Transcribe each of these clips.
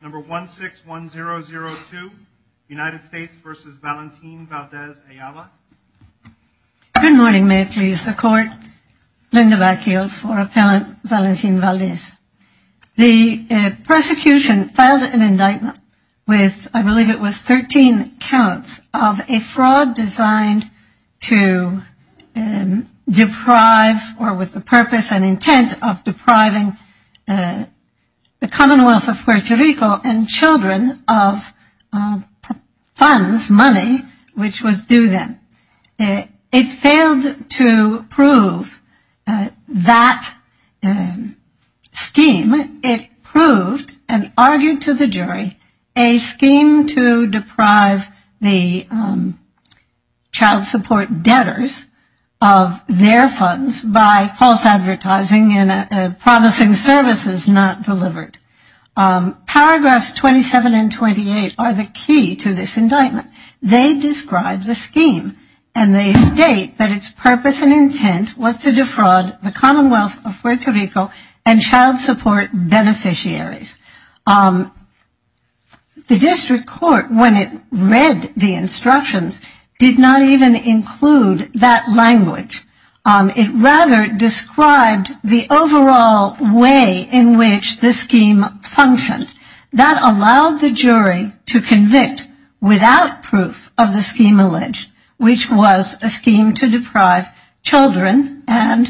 161002 United States v. Valentin Valdes-Ayala Good morning, may it please the court. Linda Backfield for Appellant Valentin Valdes. The prosecution filed an indictment with I believe it was 13 counts of a fraud designed to deprive or with the purpose and intent of depriving the Commonwealth of Puerto Rico and children of funds, money, which was due them. It failed to prove that scheme. It proved and argued to the jury a scheme to deprive the child support debtors of their funds by false advertising and promising services not delivered. Paragraphs 27 and 28 are the key to this indictment. They describe the scheme and they state that its purpose and intent was to defraud the Commonwealth of Puerto Rico and child support beneficiaries. The district court, when it read the instructions, did not even include that language. It rather described the overall way in which the scheme functioned. That allowed the jury to convict without proof of the scheme alleged, which was a scheme to deprive children and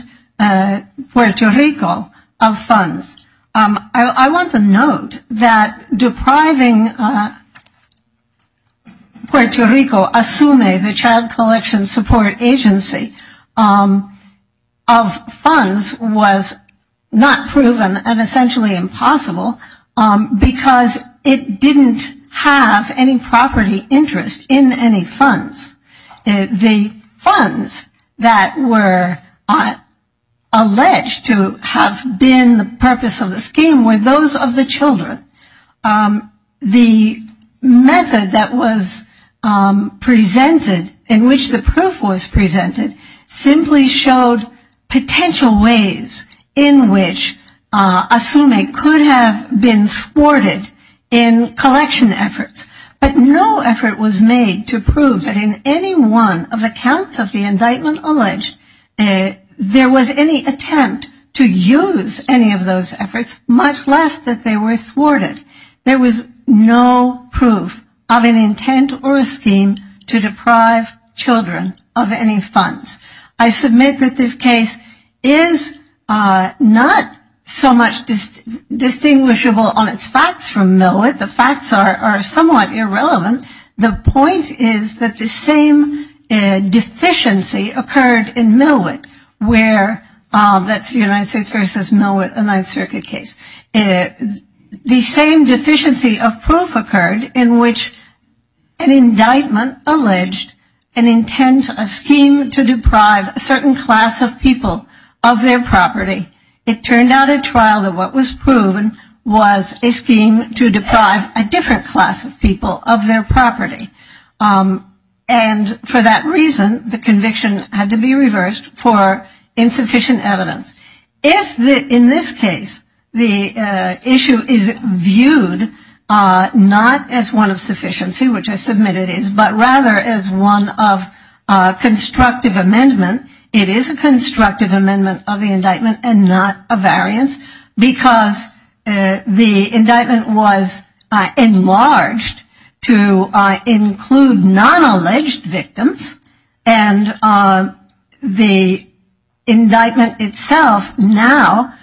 Puerto Rico of funds. I want to note that depriving Puerto Rico, ASUME, the child collection support agency, of funds was not proven and essentially impossible because it didn't have any property interest in any funds. The funds that were alleged to have been the purpose of the scheme were those of the children. The method that was presented in which the proof was presented simply showed potential ways in which ASUME could have been thwarted in collection efforts. But no effort was made to prove that in any one of the counts of the indictment alleged there was any attempt to use any of those efforts, much less that they were thwarted. There was no proof of an intent or a scheme to deprive children of any funds. I submit that this case is not so much distinguishable on its facts from Millwood. The facts are somewhat irrelevant. The point is that the same deficiency occurred in Millwood where that's the United States versus Millwood Ninth Circuit case. The same deficiency of proof occurred in which an indictment alleged an intent, a scheme to deprive a certain class of people of their property. It turned out at trial that what was proven was a scheme to deprive a different class of people of their property. And for that reason, the conviction had to be reversed for insufficient evidence. In this case, the issue is viewed not as one of sufficiency, which I submit it is, but rather as one of constructive amendment. It is a constructive amendment of the indictment and not a variance because the indictment was enlarged to include non-alleged victims. And the indictment itself now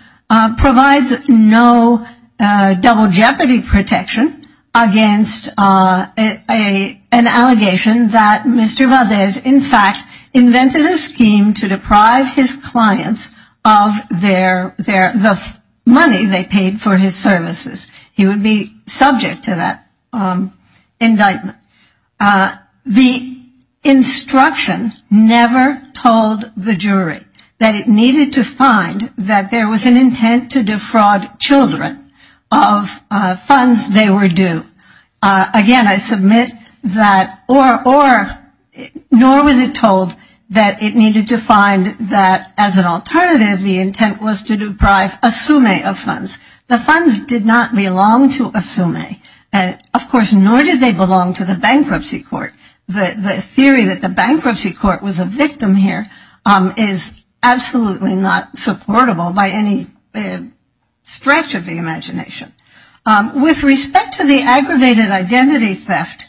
provides no double jeopardy protection against an allegation that Mr. Valdez, in fact, invented a scheme to deprive his clients of the money they paid for his services. He would be subject to that indictment. The instruction never told the jury that it needed to find that there was an intent to defraud children of funds they were due. Again, I submit that or nor was it told that it needed to find that as an alternative the intent was to deprive a sume of funds. The funds did not belong to a sume. Of course, nor did they belong to the bankruptcy court. The theory that the bankruptcy court was a victim here is absolutely not supportable by any stretch of the imagination. With respect to the aggravated identity theft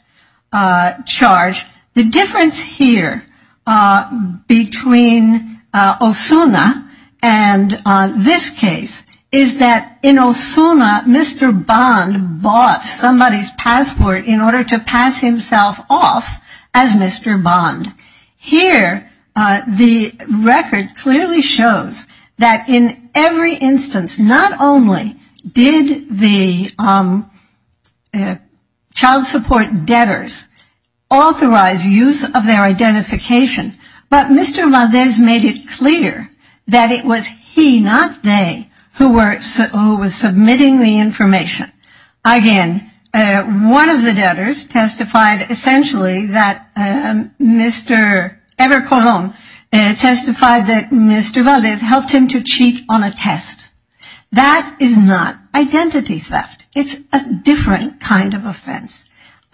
charge, the difference here between Osuna and this case is that in Osuna, Mr. Bond bought somebody's passport in order to pass himself off as Mr. Bond. Here, the record clearly shows that in every instance, not only did the child support debtors authorize use of their identification, but Mr. Valdez made it clear that it was he, not they, who was submitting the information. Again, one of the debtors testified essentially that Mr. Evercolom testified that Mr. Valdez helped him to cheat on a test. That is not identity theft. It's a different kind of offense.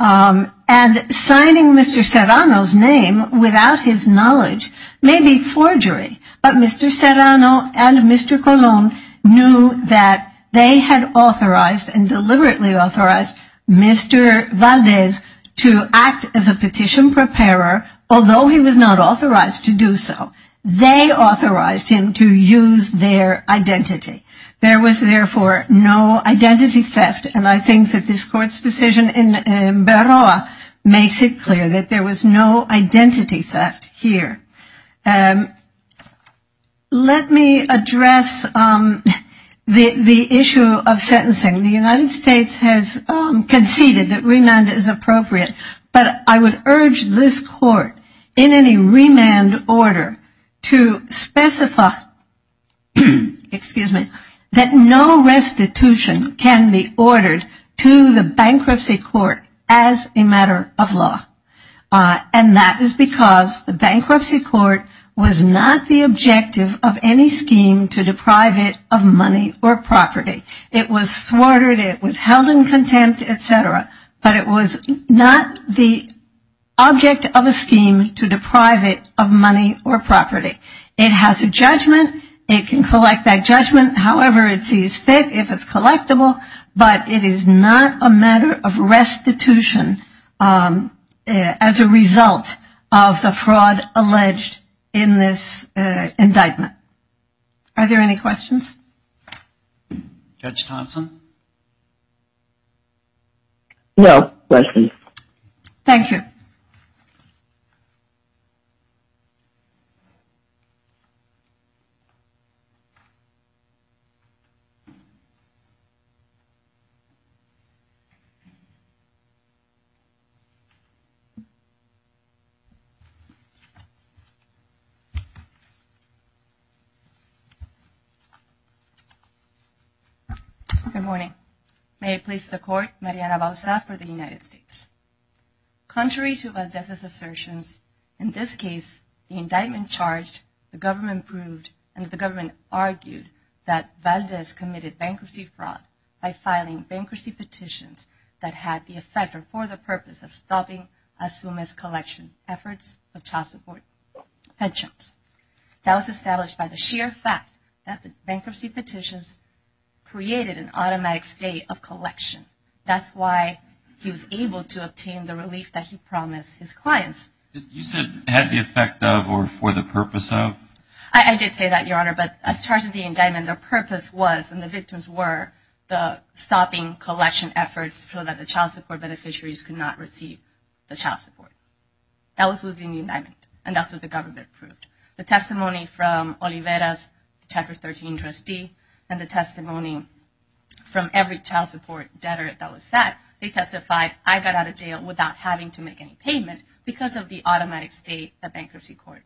And signing Mr. Serrano's name without his knowledge may be forgery, but Mr. Serrano and Mr. Colon knew that they had authorized and deliberately authorized Mr. Valdez to act as a petition preparer, although he was not authorized to do so. They authorized him to use their identity. There was, therefore, no identity theft, and I think that this Court's decision in Baroa makes it clear that there was no identity theft here. Let me address the issue of sentencing. The United States has conceded that remand is appropriate, but I would urge this Court in any remand order to specify that no restitution can be ordered to the bankruptcy court as a matter of law. And that is because the bankruptcy court was not the objective of any scheme to deprive it of money or property. It was thwarted, it was held in contempt, et cetera, but it was not the object of a scheme to deprive it of money or property. It has a judgment. It can collect that judgment however it sees fit, if it's collectible, but it is not a matter of restitution as a result of the fraud alleged in this indictment. Are there any questions? Judge Thompson? No questions. Thank you. Good morning. May it please the Court, Mariana Bausa for the United States. Contrary to Valdez's assertions, in this case, the indictment charged, the government proved, and the government argued that Valdez committed bankruptcy fraud by filing bankruptcy petitions that had the effect or for the purpose of stopping as soon as collection efforts of child support pensions. That was established by the sheer fact that the bankruptcy petitions created an automatic state of collection. That's why he was able to obtain the relief that he promised his clients. You said had the effect of or for the purpose of? I did say that, Your Honor, but as charged in the indictment, the purpose was and the victims were the stopping collection efforts so that the child support beneficiaries could not receive the child support. That was in the indictment and that's what the government proved. The testimony from Olivera's Chapter 13 trustee and the testimony from every child support debtor that was set, they testified, I got out of jail without having to make any payment because of the automatic state that bankruptcy court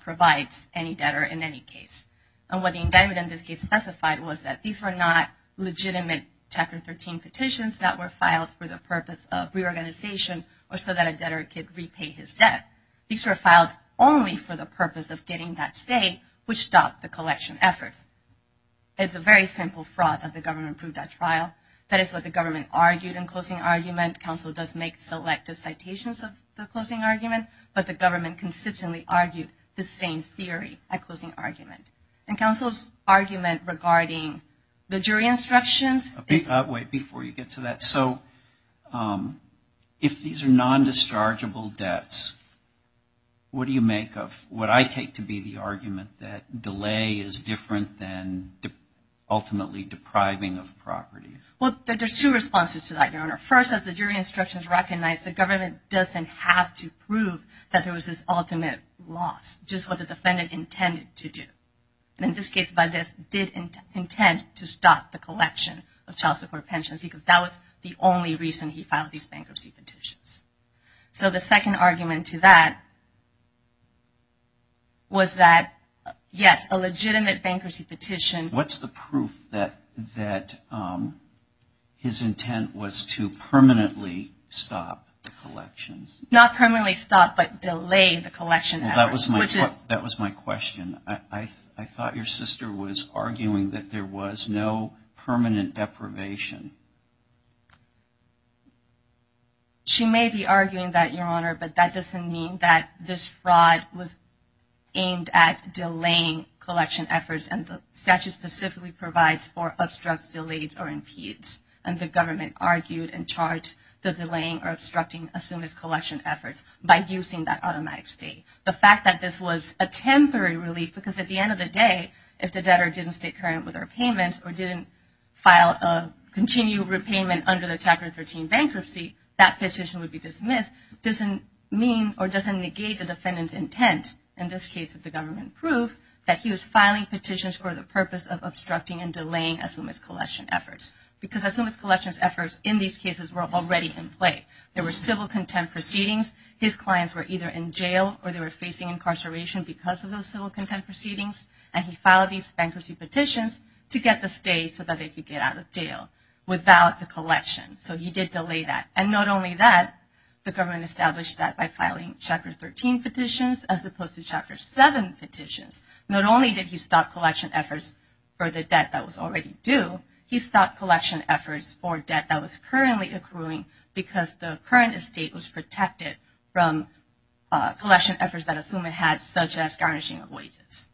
provides any debtor in any case. And what the indictment, in this case, specified was that these were not legitimate Chapter 13 petitions that were filed for the purpose of reorganization or so that a debtor could repay his debt. These were filed only for the purpose of getting that state which stopped the collection efforts. It's a very simple fraud that the government proved at trial. That is what the government argued in closing argument. Council does make selective citations of the closing argument, but the government consistently argued the same theory at closing argument. And Council's argument regarding the jury instructions. Wait before you get to that. So if these are non-dischargeable debts, what do you make of what I take to be the argument that delay is different than ultimately depriving of property? Well, there's two responses to that, Your Honor. First, as the jury instructions recognize, the government doesn't have to prove that there was this ultimate loss. Just what the defendant intended to do. And in this case, by this, did intend to stop the collection of child support pensions because that was the only reason he filed these bankruptcy petitions. So the second argument to that was that, yes, a legitimate bankruptcy petition. What's the proof that his intent was to permanently stop the collections? Not permanently stop, but delay the collection. That was my question. I thought your sister was arguing that there was no permanent deprivation. She may be arguing that, Your Honor, but that doesn't mean that this fraud was aimed at delaying collection efforts. And the statute specifically provides for obstructs, delays, or impedes. And the government argued and charged the delaying or obstructing assumed collection efforts by using that automatic state. The fact that this was a temporary relief, because at the end of the day, if the debtor didn't stay current with their payments or didn't continue repayment under the Chapter 13 bankruptcy, that petition would be dismissed. This doesn't mean or doesn't negate the defendant's intent. In this case, the government proved that he was filing petitions for the purpose of obstructing and delaying assumed collection efforts. Because assumed collection efforts in these cases were already in play. There were civil contempt proceedings. His clients were either in jail or they were facing incarceration because of those civil contempt proceedings. And he filed these bankruptcy petitions to get the state so that they could get out of jail without the collection. So he did delay that. And not only that, the government established that by filing Chapter 13 petitions as opposed to Chapter 7 petitions. Not only did he stop collection efforts for the debt that was already due, he stopped collection efforts for debt that was currently accruing because the current estate was protected from collection efforts that assumed it had, such as garnishing of wages.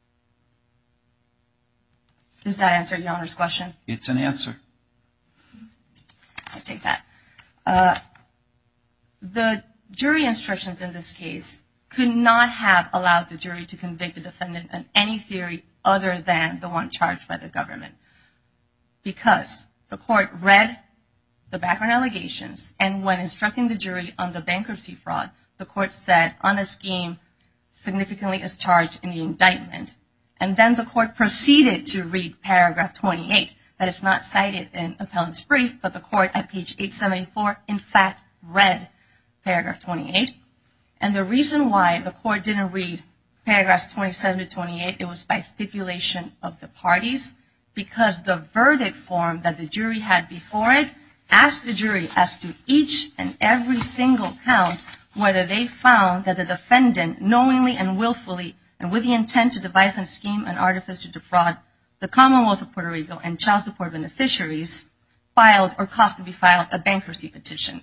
Does that answer your Honor's question? It's an answer. I'll take that. The jury instructions in this case could not have allowed the jury to convict the defendant in any theory other than the one charged by the government. Because the court read the background allegations and when instructing the jury on the bankruptcy fraud, the court said, on a scheme significantly as charged in the indictment. And then the court proceeded to read Paragraph 28. That is not cited in Appellant's brief, but the court at page 874, in fact, read Paragraph 28. And the reason why the court didn't read Paragraphs 27 to 28, it was by stipulation of the parties. Because the verdict form that the jury had before it asked the jury, after each and every single count, whether they found that the license scheme and artifice to defraud the Commonwealth of Puerto Rico and child support beneficiaries filed or cost to be filed a bankruptcy petition.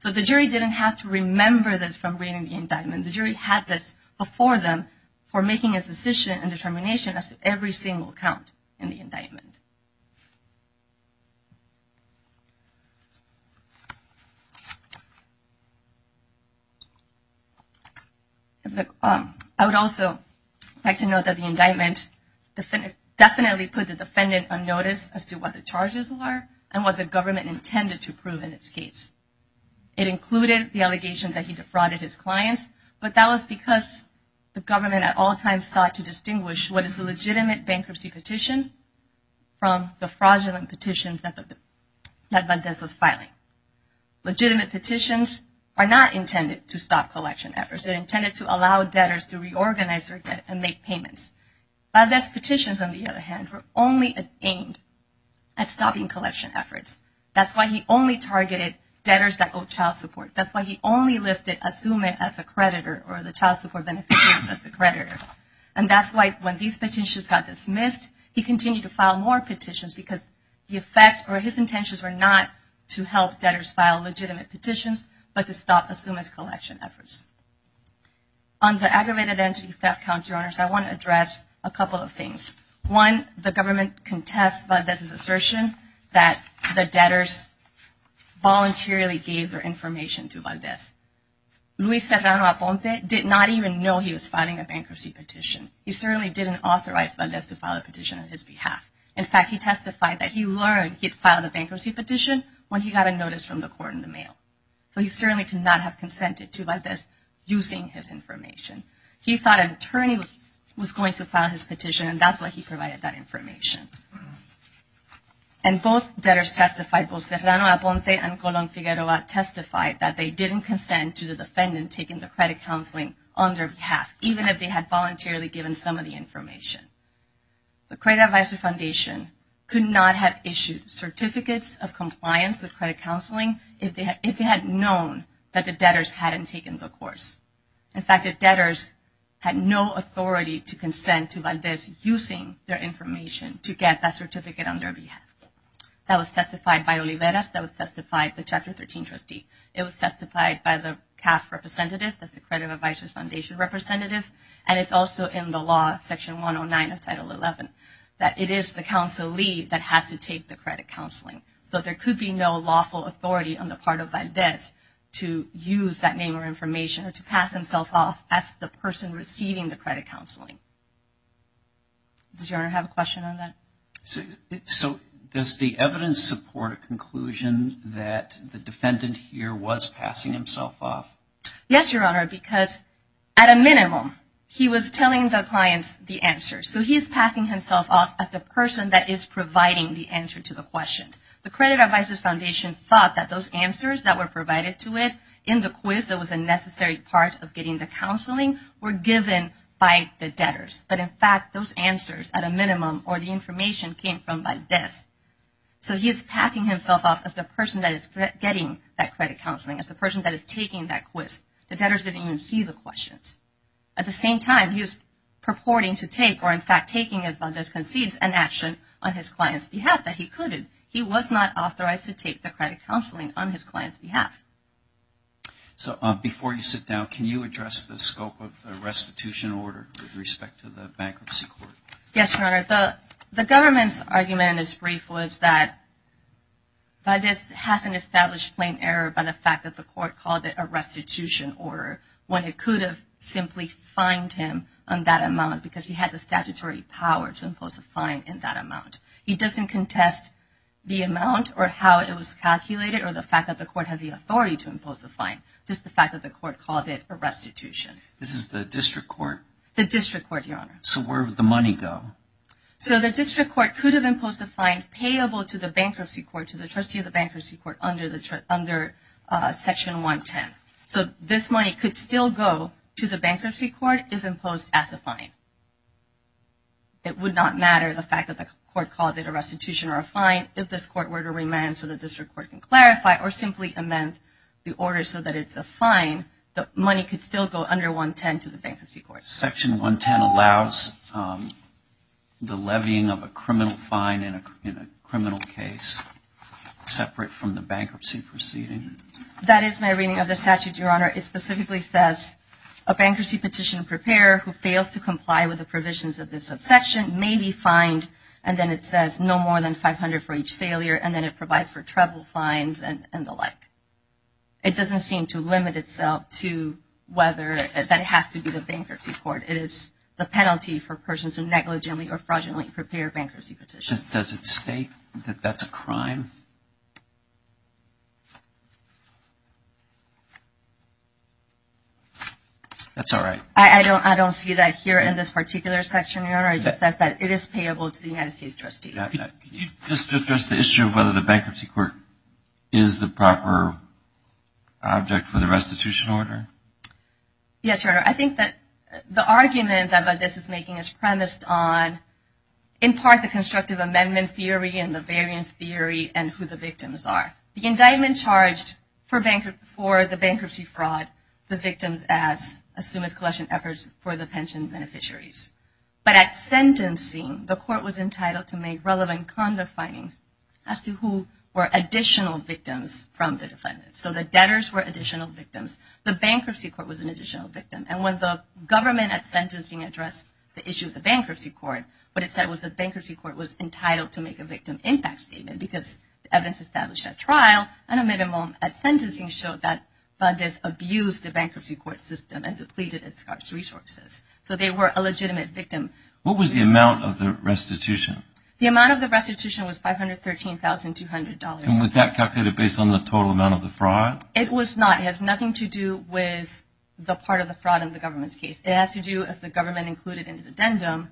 So the jury didn't have to remember this from reading the indictment. The jury had this before them for making a decision and determination as to every single count in the indictment. I would also like to note that the indictment definitely put the defendant on notice as to what the charges were and what the government intended to prove in its case. It included the allegations that he defrauded his clients, but that was because the government at all times sought to distinguish what is a fraudulent petitions that Valdez was filing. Legitimate petitions are not intended to stop collection efforts. They're intended to allow debtors to reorganize their debt and make payments. Valdez's petitions, on the other hand, were only aimed at stopping collection efforts. That's why he only targeted debtors that owed child support. That's why he only listed Azumay as a creditor or the child support beneficiaries as a creditor. And that's why when these petitions got dismissed, he continued to file more petitions because the effect or his intentions were not to help debtors file legitimate petitions, but to stop Azumay's collection efforts. On the aggravated entity theft counter-honors, I want to address a couple of things. One, the government contests Valdez's assertion that the debtors voluntarily gave their information to Valdez. Luis Serrano Aponte did not even know he was filing a bankruptcy petition. He certainly didn't authorize Valdez to file a petition on his behalf. In fact, he testified that he learned he'd filed a bankruptcy petition when he got a notice from the court in the mail. So he certainly could not have consented to Valdez using his information. He thought an attorney was going to file his petition, and that's why he provided that information. And both debtors testified, both Serrano Aponte and Colon Figueroa testified that they didn't consent to the defendant taking the credit counseling on their behalf, even if they had voluntarily given some of the information. The Credit Advisory Foundation could not have issued certificates of compliance with credit counseling if it had known that the debtors hadn't taken the course. In fact, the debtors had no authority to consent to Valdez using their information to get that certificate on their behalf. That was testified by Oliveras. That was testified by the Chapter 13 trustee. It was testified by the CAF representative, that's the Credit Advisory Foundation representative. And it's also in the law, Section 109 of Title 11, that it is the counselee that has to take the credit counseling. So there could be no lawful authority on the part of Valdez to use that name or information or to pass himself off as the person receiving the credit counseling. Does Your Honor have a question on that? So does the evidence support a conclusion that the defendant here was passing himself off? Yes, Your Honor, because at a minimum, he was telling the client the answer. So he is passing himself off as the person that is providing the answer to the question. The Credit Advisory Foundation thought that those answers that were provided to it in the quiz that was a necessary part of getting the counseling were given by the debtors. But in fact, those answers at a minimum or the information came from Valdez. So he is passing himself off as the person that is getting that credit counseling, as the person that is taking that quiz. The debtors didn't even see the questions. At the same time, he was purporting to take, or in fact taking as Valdez concedes, an action on his client's behalf that he couldn't. He was not authorized to take the credit counseling on his client's behalf. So before you sit down, can you address the scope of the restitution order with respect to the bankruptcy court? Yes, Your Honor. The government's argument in its brief was that Valdez hasn't established plain error by the fact that the court called it a restitution order when it could have simply fined him on that amount because he had the statutory power to impose a fine in that amount. He doesn't contest the amount or how it was calculated or the fact that the court had the authority to impose a fine, just the fact that the court called it a restitution. This is the district court? The district court, Your Honor. So where would the money go? So the district court could have imposed a fine payable to the bankruptcy court, to the trustee of the bankruptcy court under Section 110. So this money could still go to the bankruptcy court if imposed as a fine. It would not matter the fact that the court called it a restitution or a fine, if this court were to remand so the district court can clarify or simply amend the order so that it's a fine, the money could still go under 110 to the bankruptcy court. Section 110 allows the levying of a criminal fine in a criminal case separate from the bankruptcy proceeding? That is my reading of the statute, Your Honor. It specifically says a bankruptcy petition preparer who fails to comply with the provisions of this subsection may be fined, and then it says no more than 500 for each failure, and then it provides for treble fines and the like. It doesn't seem to limit itself to whether that has to be the bankruptcy court. It is the penalty for persons who negligently or fraudulently prepare bankruptcy petitions. Does it state that that's a crime? That's all right. I don't see that here in this particular section, Your Honor. It just says that it is payable to the United States trustee. Can you just address the issue of whether the bankruptcy court is the proper object for the restitution order? Yes, Your Honor. I think that the argument that this is making is premised on, in part, the constructive amendment theory and the variance theory and who the victims are. The indictment charged for the bankruptcy fraud, the victims as soon as collection efforts for the pension beneficiaries. But at sentencing, the court was entitled to make relevant conda findings as to who were additional victims from the defendant. So the debtors were additional victims. The bankruptcy court was an additional victim. And when the government at sentencing addressed the issue of the bankruptcy court, what it said was the bankruptcy court was entitled to make a victim impact statement because evidence established at trial and a minimum at sentencing showed that funders abused the bankruptcy court system and depleted its scarce resources. So they were a legitimate victim. What was the amount of the restitution? The amount of the restitution was $513,200. And was that calculated based on the total amount of the fraud? It was not. It has nothing to do with the part of the fraud in the government's case. It has to do, as the government included in its addendum,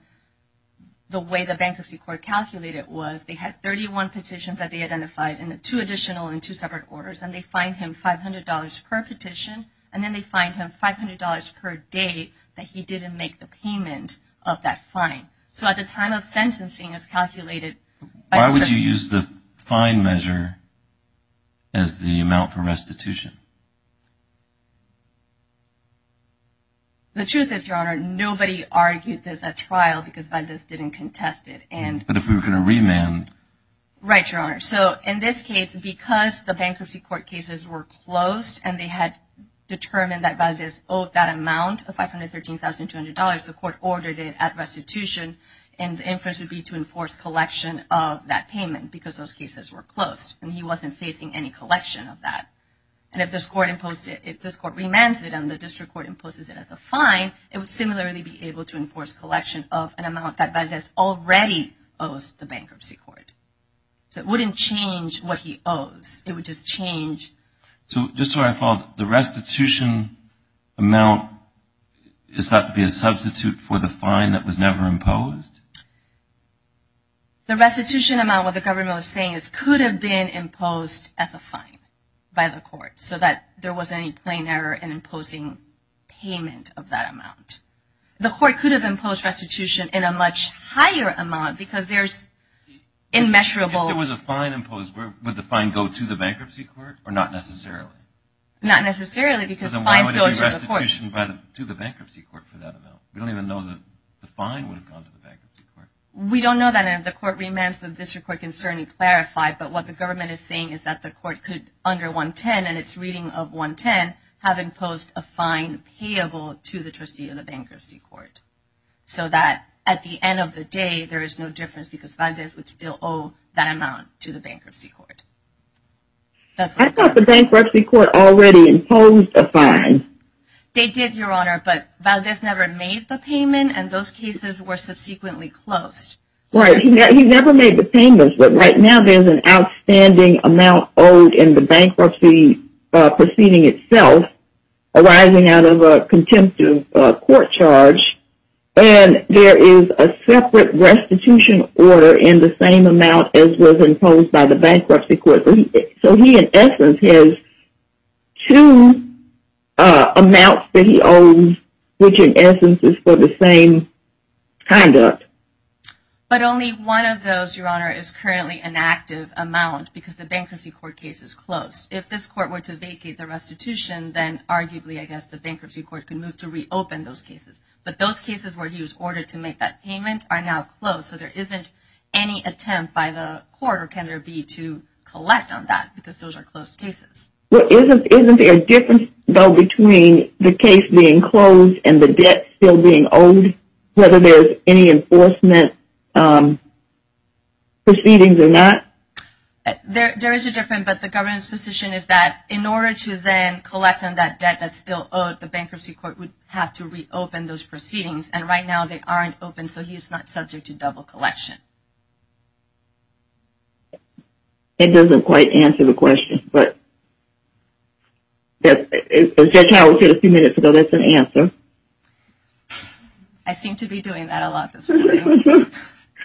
the way the bankruptcy court calculated it was they had 31 petitions that they identified and two additional and two separate orders. And they fined him $500 per petition. And then they fined him $500 per day that he didn't make the payment of that fine. So at the time of sentencing, it was calculated. Why would you use the fine measure as the amount for restitution? The truth is, Your Honor, nobody argued this at trial because Valdez didn't contest it. But if we were going to remand. Right, Your Honor. So in this case, because the bankruptcy court cases were closed and they had determined that Valdez owed that amount of $513,200, the court ordered it at restitution. And the inference would be to enforce collection of that payment because those cases were closed. And he wasn't facing any collection of that. And if this court remanded it and the district court imposes it as a fine, it would similarly be able to enforce collection of an amount that Valdez already owes the bankruptcy court. So it wouldn't change what he owes. It would just change. So just so I follow, the restitution amount is thought to be a substitute for the fine that was never imposed? The restitution amount, what the government was saying, could have been imposed as a fine by the court so that there wasn't any plain error in imposing payment of that amount. The court could have imposed restitution in a much higher amount because there's immeasurable. If there was a fine imposed, would the fine go to the bankruptcy court or not necessarily? Not necessarily because fines go to the court. Why would it be restitution to the bankruptcy court for that amount? We don't even know that the fine would have gone to the bankruptcy court. We don't know that. And if the court remands, the district court can certainly clarify. But what the government is saying is that the court could, under 110 and its reading of 110, have imposed a fine payable to the trustee of the bankruptcy court so that at the end of the day, there is no difference because Valdez would still owe that amount to the bankruptcy court. I thought the bankruptcy court already imposed a fine. They did, Your Honor, but Valdez never made the payment and those cases were subsequently closed. Right. He never made the payment, but right now there's an outstanding amount owed in the bankruptcy proceeding itself arising out of a contempt of court charge. And there is a separate restitution order in the same amount as was imposed by the bankruptcy court. So he, in essence, has two amounts that he owes, which in essence is for the same conduct. But only one of those, Your Honor, is currently an active amount because the bankruptcy court case is closed. If this court were to vacate the restitution, then arguably, I guess, the bankruptcy court could move to reopen those cases. But those cases were used in order to make that payment are now closed. So there isn't any attempt by the court or can there be to collect on that because those are closed cases. Well, isn't there a difference, though, between the case being closed and the debt still being owed, whether there's any enforcement proceedings or not? There is a difference, but the government's position is that in order to then collect on that debt that's still owed, the bankruptcy court would have to reopen those proceedings. And right now they aren't open, so he's not subject to double collection. It doesn't quite answer the question, but Judge Howell said a few minutes ago that's an answer. I seem to be doing that a lot this morning.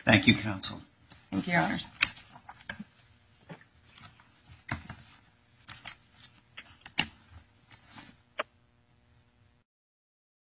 Thank you, counsel. Thank you, Your Honors.